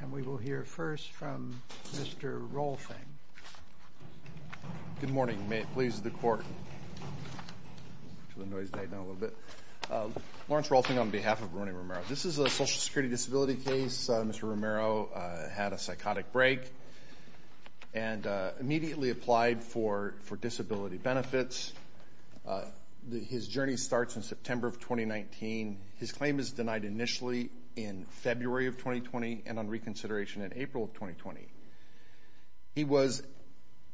And we will hear first from Mr. Rolfing. Good morning. May it please the Court. Lawrence Rolfing on behalf of Rony Romero. This is a social security disability case. Mr. Romero had a psychotic break and immediately applied for disability benefits. His journey starts in September of 2019. His claim is denied initially in February of 2020 and on reconsideration in April of 2020.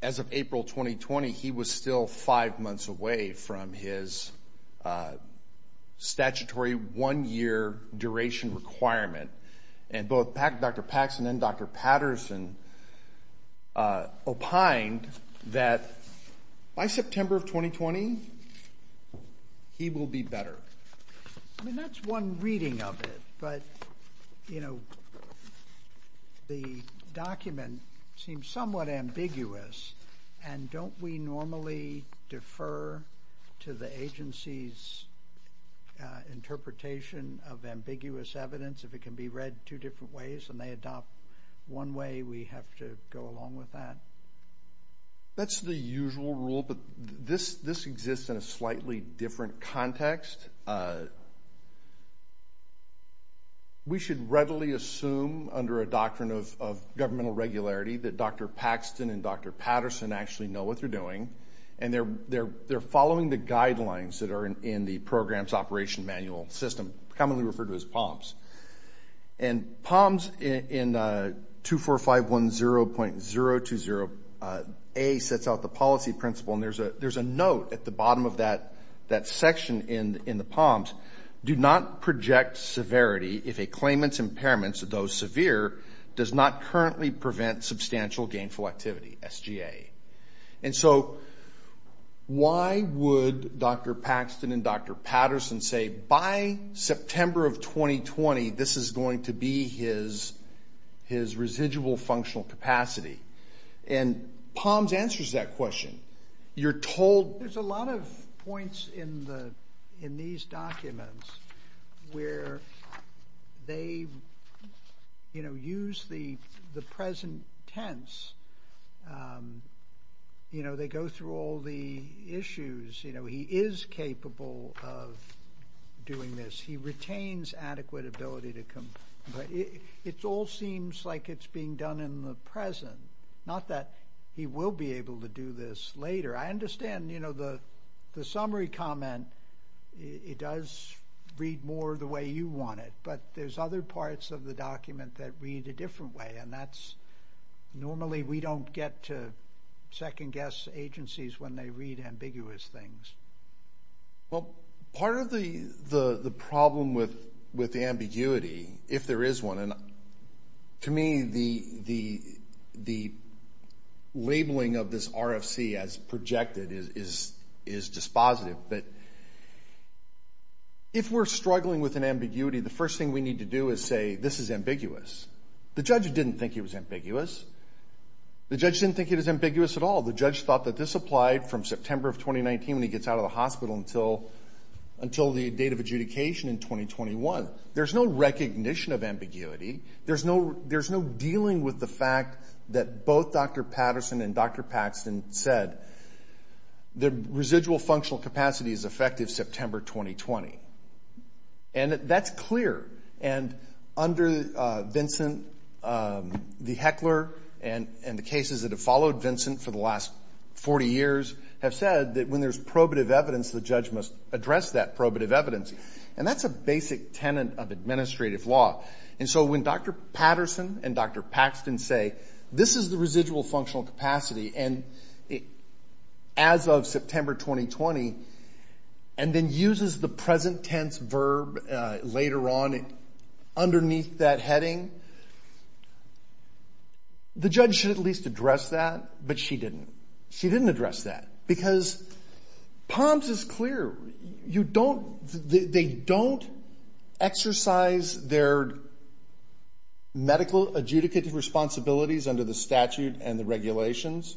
As of April 2020, he was still five months away from his statutory one-year duration requirement. And both Dr. Paxson and Dr. Patterson opined that by September of 2020, he will be better. I mean, that's one reading of it, but, you know, the document seems somewhat ambiguous. And don't we normally defer to the agency's interpretation of ambiguous evidence if it can be read two different ways and they adopt one way, we have to go along with that? That's the usual rule, but this exists in a slightly different context. We should readily assume under a doctrine of governmental regularity that Dr. Paxson and Dr. Patterson actually know what they're doing, and they're following the guidelines that are in the program's operation manual system, commonly referred to as POMS. And POMS in 24510.020A sets out the policy principle, and there's a note at the bottom of that section in the POMS, do not project severity if a claimant's impairments, though severe, does not currently prevent substantial gainful activity, SGA. And so why would Dr. Paxson and Dr. Patterson say by September of 2020, this is going to be his residual functional capacity? And POMS answers that question. There's a lot of points in these documents where they use the present tense. They go through all the issues. He is capable of doing this. He retains adequate ability to comply. It all seems like it's being done in the present, not that he will be able to do this later. I understand, you know, the summary comment, it does read more the way you want it, but there's other parts of the document that read a different way, and that's normally we don't get to second-guess agencies when they read ambiguous things. Well, part of the problem with ambiguity, if there is one, and to me the labeling of this RFC as projected is dispositive, but if we're struggling with an ambiguity, the first thing we need to do is say this is ambiguous. The judge didn't think it was ambiguous. The judge didn't think it was ambiguous at all. The judge thought that this applied from September of 2019 when he gets out of the hospital until the date of adjudication in 2021. There's no recognition of ambiguity. There's no dealing with the fact that both Dr. Patterson and Dr. Paxton said the residual functional capacity is effective September 2020. And that's clear. And under Vincent, the Heckler and the cases that have followed Vincent for the last 40 years have said that when there's probative evidence, the judge must address that probative evidence. And that's a basic tenet of administrative law. And so when Dr. Patterson and Dr. Paxton say this is the residual functional capacity and as of September 2020 and then uses the present tense verb later on underneath that heading, the judge should at least address that, but she didn't. She didn't address that. Because POMS is clear. They don't exercise their medical adjudicative responsibilities under the statute and the regulations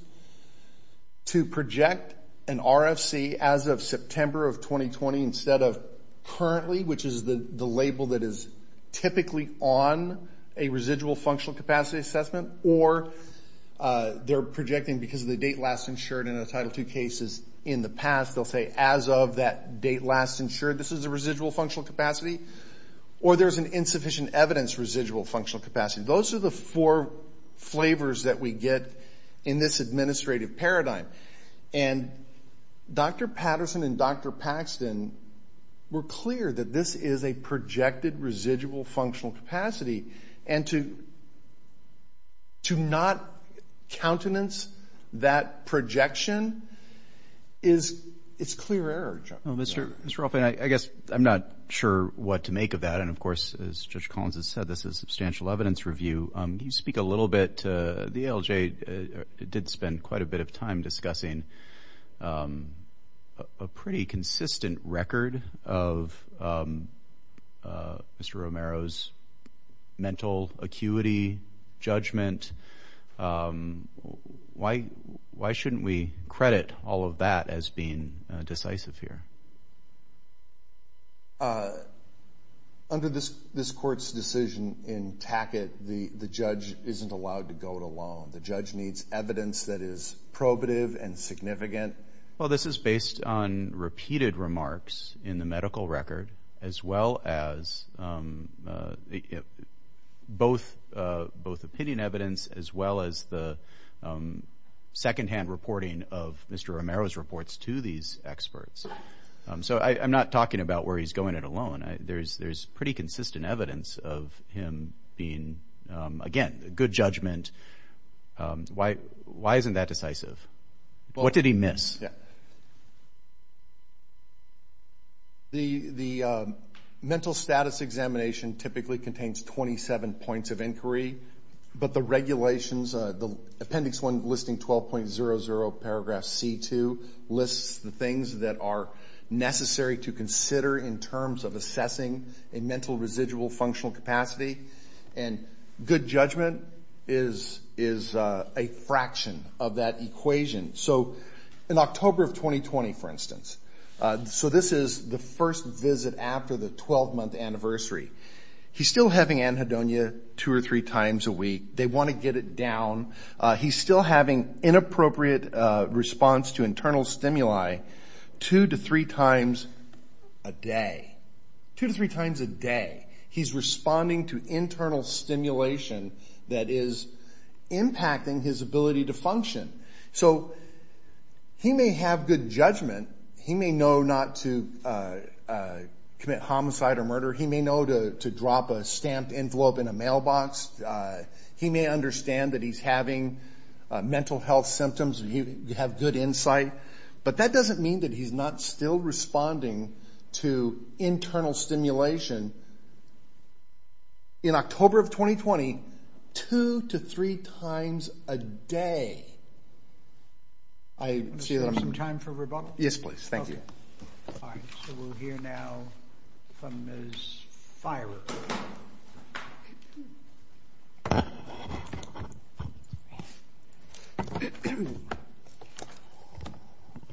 to project an RFC as of September of 2020 instead of currently, which is the label that is typically on a residual functional capacity assessment, or they're projecting because of the date last insured in a Title II case is in the past, they'll say as of that date last insured, this is a residual functional capacity, or there's an insufficient evidence residual functional capacity. Those are the four flavors that we get in this administrative paradigm. And Dr. Patterson and Dr. Paxton were clear that this is a projected residual functional capacity. And to not countenance that projection is clear error. Mr. Rolfing, I guess I'm not sure what to make of that. And, of course, as Judge Collins has said, this is a substantial evidence review. Can you speak a little bit to the ALJ? I did spend quite a bit of time discussing a pretty consistent record of Mr. Romero's mental acuity judgment. Why shouldn't we credit all of that as being decisive here? Under this court's decision in Tackett, the judge isn't allowed to go it alone. The judge needs evidence that is probative and significant. Well, this is based on repeated remarks in the medical record as well as both opinion evidence as well as the secondhand reporting of Mr. Romero's reports to these experts. So I'm not talking about where he's going it alone. There's pretty consistent evidence of him being, again, good judgment. Why isn't that decisive? What did he miss? The mental status examination typically contains 27 points of inquiry. But the regulations, the Appendix 1, Listing 12.00, Paragraph C2, lists the things that are necessary to consider in terms of assessing a mental residual functional capacity. And good judgment is a fraction of that equation. So in October of 2020, for instance, so this is the first visit after the 12-month anniversary. He's still having anhedonia two or three times a week. They want to get it down. He's still having inappropriate response to internal stimuli two to three times a day. Two to three times a day. He's responding to internal stimulation that is impacting his ability to function. So he may have good judgment. He may know not to commit homicide or murder. He may know to drop a stamped envelope in a mailbox. He may understand that he's having mental health symptoms. You have good insight. But that doesn't mean that he's not still responding to internal stimulation. In October of 2020, two to three times a day. Do you have some time for rebuttal? Yes, please. Thank you. All right, so we'll hear now from Ms. Fierer.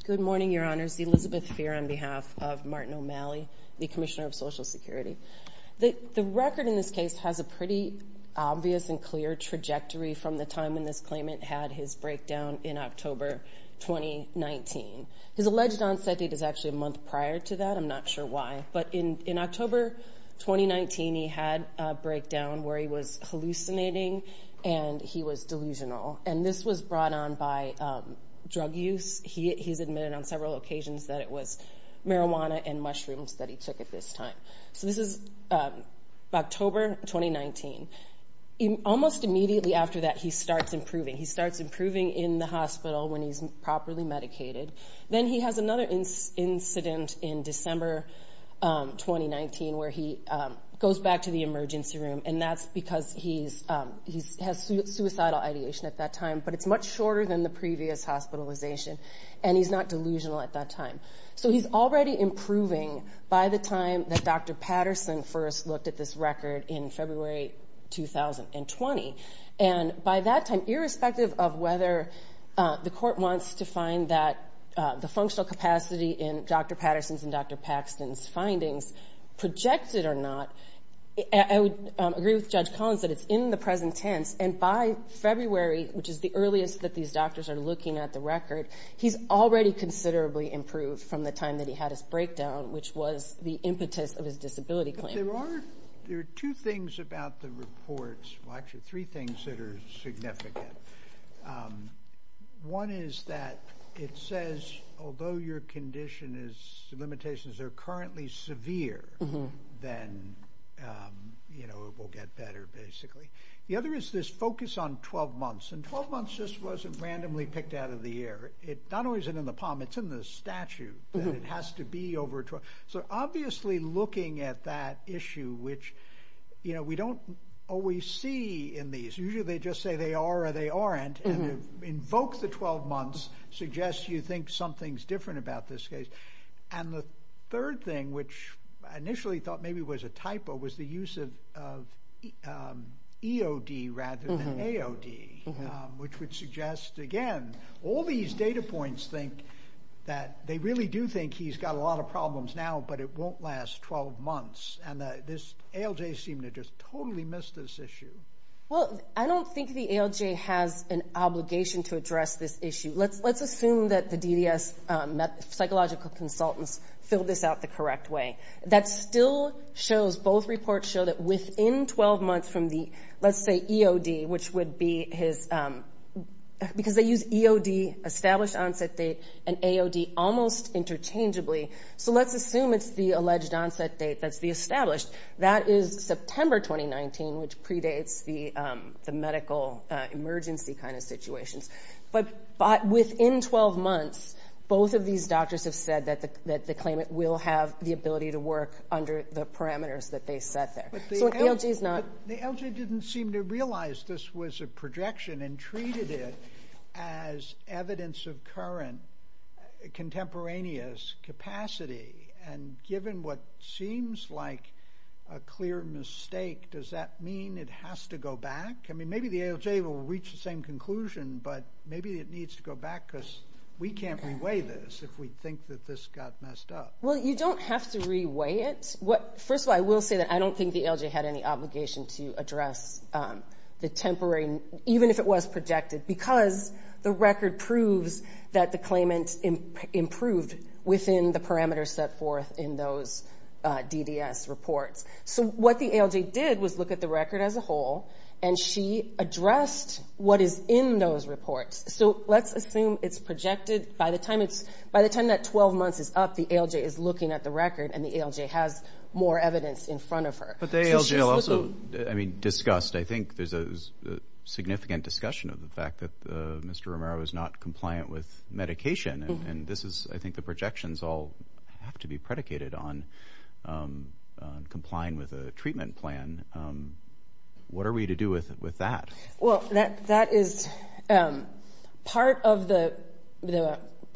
Good morning, Your Honors. Elizabeth Fierer on behalf of Martin O'Malley, the Commissioner of Social Security. The record in this case has a pretty obvious and clear trajectory from the time when this claimant had his breakdown in October 2019. His alleged onset date is actually a month prior to that. I'm not sure why. But in October 2019, he had a breakdown where he was hallucinating and he was delusional. And this was brought on by drug use. He's admitted on several occasions that it was marijuana and mushrooms that he took at this time. So this is October 2019. Almost immediately after that, he starts improving. He starts improving in the hospital when he's properly medicated. Then he has another incident in December 2019 where he goes back to the emergency room. And that's because he has suicidal ideation at that time. But it's much shorter than the previous hospitalization. And he's not delusional at that time. So he's already improving by the time that Dr. Patterson first looked at this record in February 2020. And by that time, irrespective of whether the court wants to find that the functional capacity in Dr. Patterson's and Dr. Paxton's findings projected or not, I would agree with Judge Collins that it's in the present tense. And by February, which is the earliest that these doctors are looking at the record, he's already considerably improved from the time that he had his breakdown, which was the impetus of his disability claim. There are two things about the reports. Well, actually, three things that are significant. One is that it says, although your condition is limitations are currently severe, then, you know, it will get better, basically. The other is this focus on 12 months. And 12 months just wasn't randomly picked out of the air. It's not always in the palm. It's in the statute that it has to be over 12. So obviously looking at that issue, which, you know, we don't always see in these. Usually they just say they are or they aren't. And to invoke the 12 months suggests you think something's different about this case. And the third thing, which I initially thought maybe was a typo, was the use of EOD rather than AOD, which would suggest, again, all these data points think that they really do think he's got a lot of problems now, but it won't last 12 months. And this ALJ seemed to just totally miss this issue. Well, I don't think the ALJ has an obligation to address this issue. Let's assume that the DDS psychological consultants filled this out the correct way. That still shows, both reports show that within 12 months from the, let's say, EOD, which would be his, because they use EOD, established onset date, and AOD almost interchangeably. So let's assume it's the alleged onset date that's the established. That is September 2019, which predates the medical emergency kind of situations. But within 12 months, both of these doctors have said that the claimant will have the ability to work under the parameters that they set there. So an ALJ is not... But the ALJ didn't seem to realize this was a projection and treated it as evidence of current contemporaneous capacity. And given what seems like a clear mistake, does that mean it has to go back? I mean, maybe the ALJ will reach the same conclusion, but maybe it needs to go back, because we can't reweigh this if we think that this got messed up. Well, you don't have to reweigh it. First of all, I will say that I don't think the ALJ had any obligation to address the temporary, even if it was projected, because the record proves that the claimant improved within the parameters set forth in those DDS reports. So what the ALJ did was look at the record as a whole, and she addressed what is in those reports. So let's assume it's projected. By the time that 12 months is up, the ALJ is looking at the record, and the ALJ has more evidence in front of her. But the ALJ also, I mean, discussed. I think there's a significant discussion of the fact that Mr. Romero is not compliant with medication. And this is, I think, the projections all have to be predicated on complying with a treatment plan. What are we to do with that? Well, that is part of the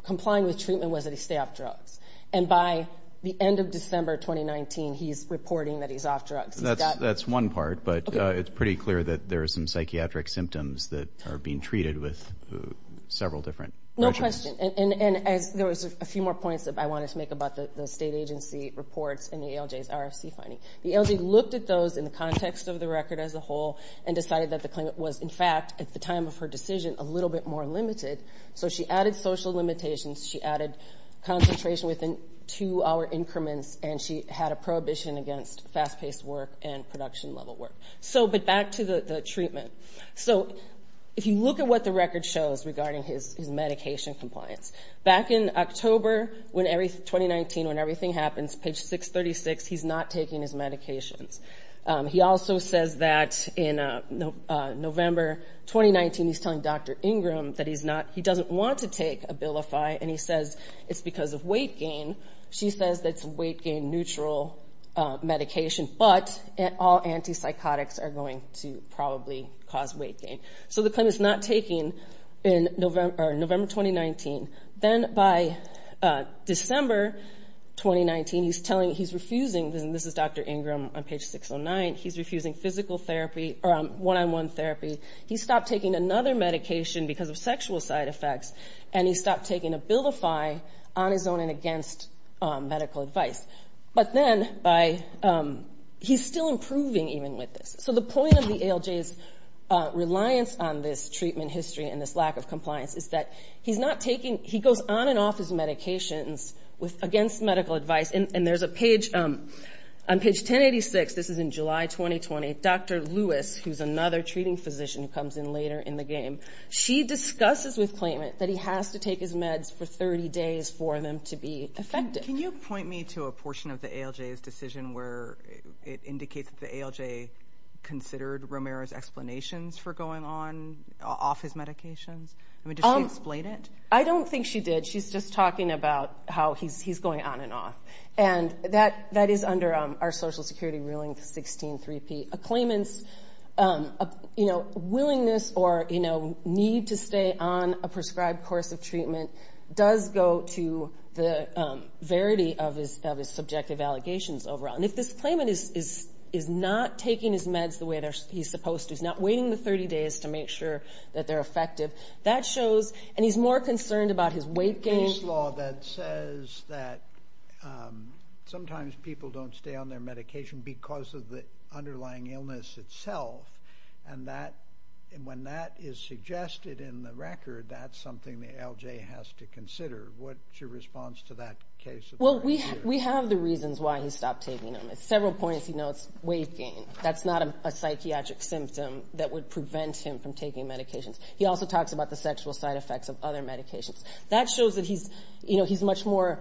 complying with treatment was that he stay off drugs. And by the end of December 2019, he's reporting that he's off drugs. That's one part, but it's pretty clear that there are some psychiatric symptoms that are being treated with several different drugs. No question. And there was a few more points that I wanted to make about the state agency reports and the ALJ's RFC finding. The ALJ looked at those in the context of the record as a whole and decided that the claimant was, in fact, at the time of her decision, a little bit more limited. So she added social limitations. She added concentration within two-hour increments, and she had a prohibition against fast-paced work and production-level work. So, but back to the treatment. So if you look at what the record shows regarding his medication compliance, back in October 2019, when everything happens, page 636, he's not taking his medications. He also says that in November 2019, he's telling Dr. Ingram that he doesn't want to take Abilify, and he says it's because of weight gain. She says it's weight-gain-neutral medication, but all antipsychotics are going to probably cause weight gain. So the claimant's not taking in November 2019. Then by December 2019, he's telling, he's refusing, and this is Dr. Ingram on page 609, he's refusing physical therapy or one-on-one therapy. He stopped taking another medication because of sexual side effects, and he stopped taking Abilify on his own and against medical advice. But then by, he's still improving even with this. So the point of the ALJ's reliance on this treatment history and this lack of compliance is that he's not taking, he goes on and off his medications against medical advice. And there's a page, on page 1086, this is in July 2020, Dr. Lewis, who's another treating physician who comes in later in the game, she discusses with claimant that he has to take his meds for 30 days for them to be effective. Can you point me to a portion of the ALJ's decision where it indicates that the ALJ considered Romero's explanations for going on, off his medications? I mean, did she explain it? I don't think she did. She's just talking about how he's going on and off. And that is under our Social Security ruling, 16-3P. A claimant's willingness or need to stay on a prescribed course of treatment does go to the verity of his subjective allegations overall. And if this claimant is not taking his meds the way he's supposed to, he's not waiting the 30 days to make sure that they're effective, that shows, and he's more concerned about his weight gain. There's a case law that says that sometimes people don't stay on their medication because of the underlying illness itself, and when that is suggested in the record, that's something the ALJ has to consider. What's your response to that case? Well, we have the reasons why he stopped taking them. At several points, he notes weight gain. That's not a psychiatric symptom that would prevent him from taking medications. He also talks about the sexual side effects of other medications. That shows that he's much more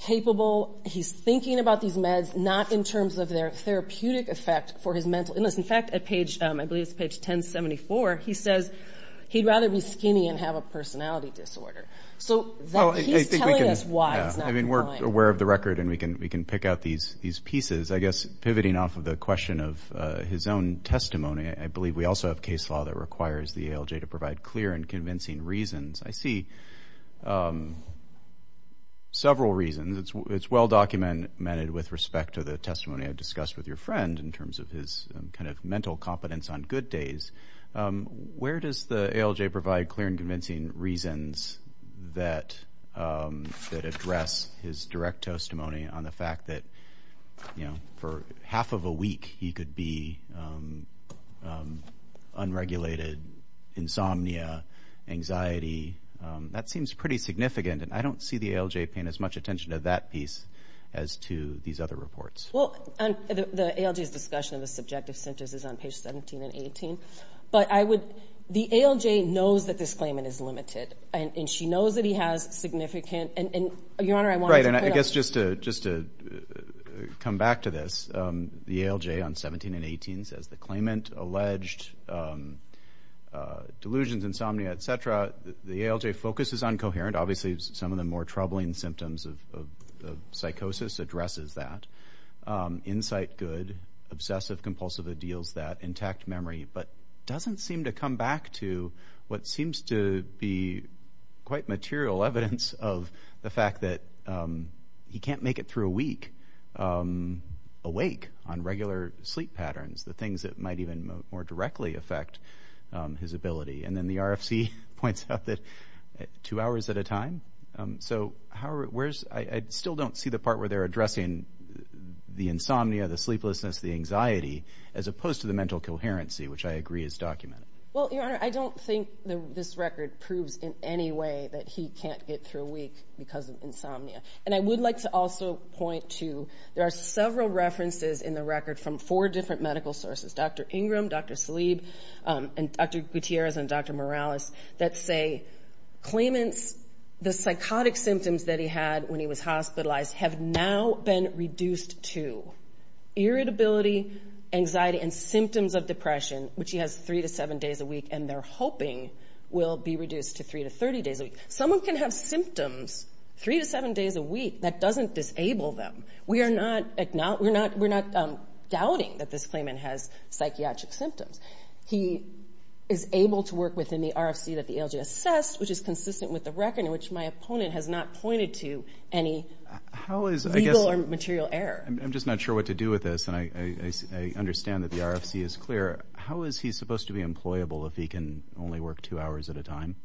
capable. He's thinking about these meds not in terms of their therapeutic effect for his mental illness. In fact, at page, I believe it's page 1074, he says he'd rather be skinny and have a personality disorder. So he's telling us why he's not going. I mean, we're aware of the record, and we can pick out these pieces. I guess pivoting off of the question of his own testimony, I believe we also have case law that requires the ALJ to provide clear and convincing reasons. I see several reasons. It's well documented with respect to the testimony I discussed with your friend in terms of his kind of mental competence on good days. Where does the ALJ provide clear and convincing reasons that address his direct testimony on the fact that, you know, for half of a week he could be unregulated, insomnia, anxiety? That seems pretty significant, and I don't see the ALJ paying as much attention to that piece as to these other reports. Well, the ALJ's discussion of the subjective symptoms is on page 17 and 18. But the ALJ knows that this claimant is limited, and she knows that he has significant... Just to come back to this, the ALJ on 17 and 18 says the claimant alleged delusions, insomnia, et cetera. The ALJ focuses on coherent. Obviously some of the more troubling symptoms of psychosis addresses that. Insight, good. Obsessive-compulsive ideals, that intact memory, but doesn't seem to come back to what seems to be quite material evidence of the fact that he can't make it through a week awake on regular sleep patterns, the things that might even more directly affect his ability. And then the RFC points out that two hours at a time. So I still don't see the part where they're addressing the insomnia, the sleeplessness, the anxiety, as opposed to the mental coherency, which I agree is documented. Well, Your Honor, I don't think this record proves in any way that he can't get through a week because of insomnia. And I would like to also point to there are several references in the record from four different medical sources, Dr. Ingram, Dr. Salib, and Dr. Gutierrez and Dr. Morales, that say claimants, the psychotic symptoms that he had when he was hospitalized have now been reduced to irritability, anxiety, and symptoms of depression, which he has three to seven days a week, and they're hoping will be reduced to three to 30 days a week. Someone can have symptoms three to seven days a week. That doesn't disable them. We are not doubting that this claimant has psychiatric symptoms. He is able to work within the RFC that the ALJ assessed, which is consistent with the record, in which my opponent has not pointed to any legal or material error. I'm just not sure what to do with this, and I understand that the RFC is clear. How is he supposed to be employable if he can only work two hours at a time?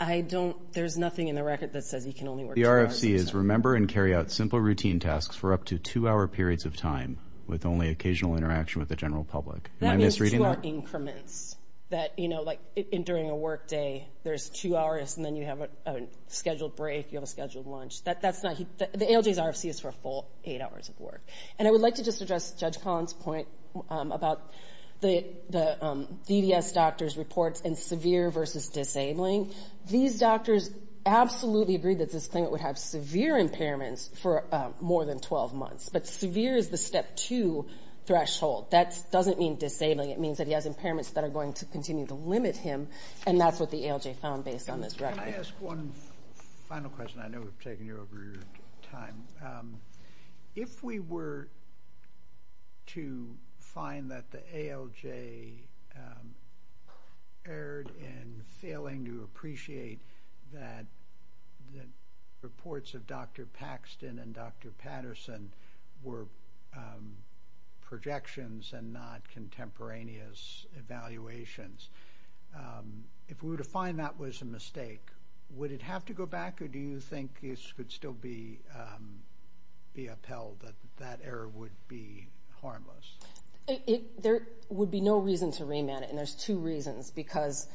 I don't – there's nothing in the record that says he can only work two hours at a time. The RFC is remember and carry out simple routine tasks for up to two-hour periods of time with only occasional interaction with the general public. Am I misreading that? That means two-hour increments that, you know, like during a work day, there's two hours, and then you have a scheduled break, you have a scheduled lunch. That's not – the ALJ's RFC is for a full eight hours of work. And I would like to just address Judge Collins' point about the DDS doctor's reports and severe versus disabling. These doctors absolutely agreed that this claimant would have severe impairments for more than 12 months, but severe is the step two threshold. That doesn't mean disabling. It means that he has impairments that are going to continue to limit him, and that's what the ALJ found based on this record. Can I ask one final question? I know we've taken you over your time. If we were to find that the ALJ erred in failing to appreciate that the reports of Dr. Paxton and Dr. Patterson were projections and not contemporaneous evaluations, if we were to find that was a mistake, would it have to go back, or do you think this could still be upheld, that that error would be harmless? There would be no reason to remand it, and there's two reasons, because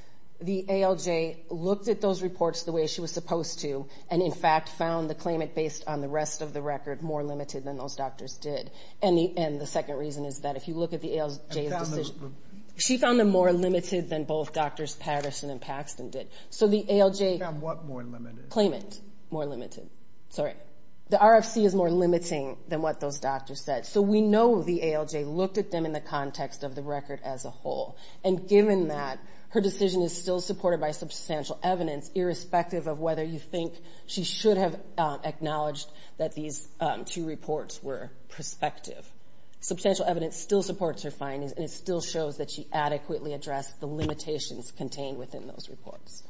the ALJ looked at those reports the way she was supposed to and, in fact, found the claimant based on the rest of the record more limited than those doctors did. And the second reason is that if you look at the ALJ's decision – she found them more limited than both Drs. Patterson and Paxton did. She found what more limited? Claimant more limited. The RFC is more limiting than what those doctors said. So we know the ALJ looked at them in the context of the record as a whole. And given that, her decision is still supported by substantial evidence, irrespective of whether you think she should have acknowledged that these two reports were prospective. Substantial evidence still supports her findings, and it still shows that she adequately addressed the limitations contained within those reports.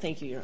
Thank you.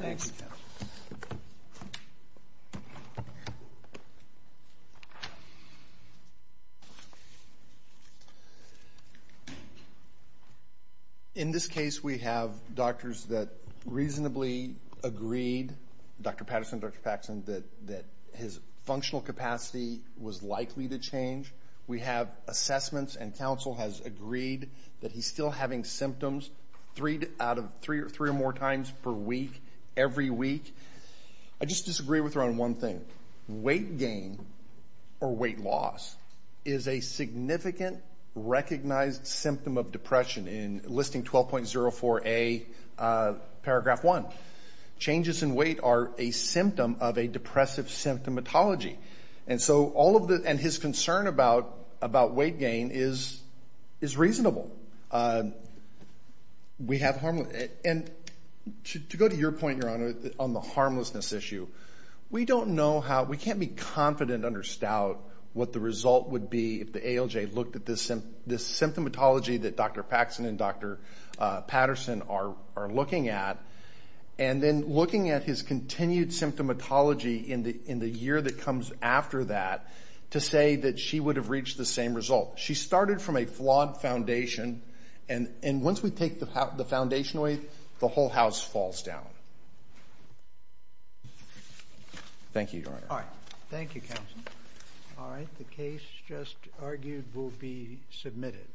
In this case, we have doctors that reasonably agreed, Dr. Patterson, Dr. Paxton, that his functional capacity was likely to change. We have assessments, and counsel has agreed that he's still having symptoms three or more times per week, every week. I just disagree with her on one thing. Weight gain or weight loss is a significant recognized symptom of depression in Listing 12.04a, paragraph 1. Changes in weight are a symptom of a depressive symptomatology. And his concern about weight gain is reasonable. To go to your point, Your Honor, on the harmlessness issue, we can't be confident under stout what the result would be if the ALJ looked at this symptomatology that Dr. Paxton and Dr. Patterson are looking at, and then looking at his continued symptomatology in the year that comes after that to say that she would have reached the same result. She started from a flawed foundation, and once we take the foundation away, the whole house falls down. Thank you, Your Honor. All right, thank you, counsel. All right, the case just argued will be submitted.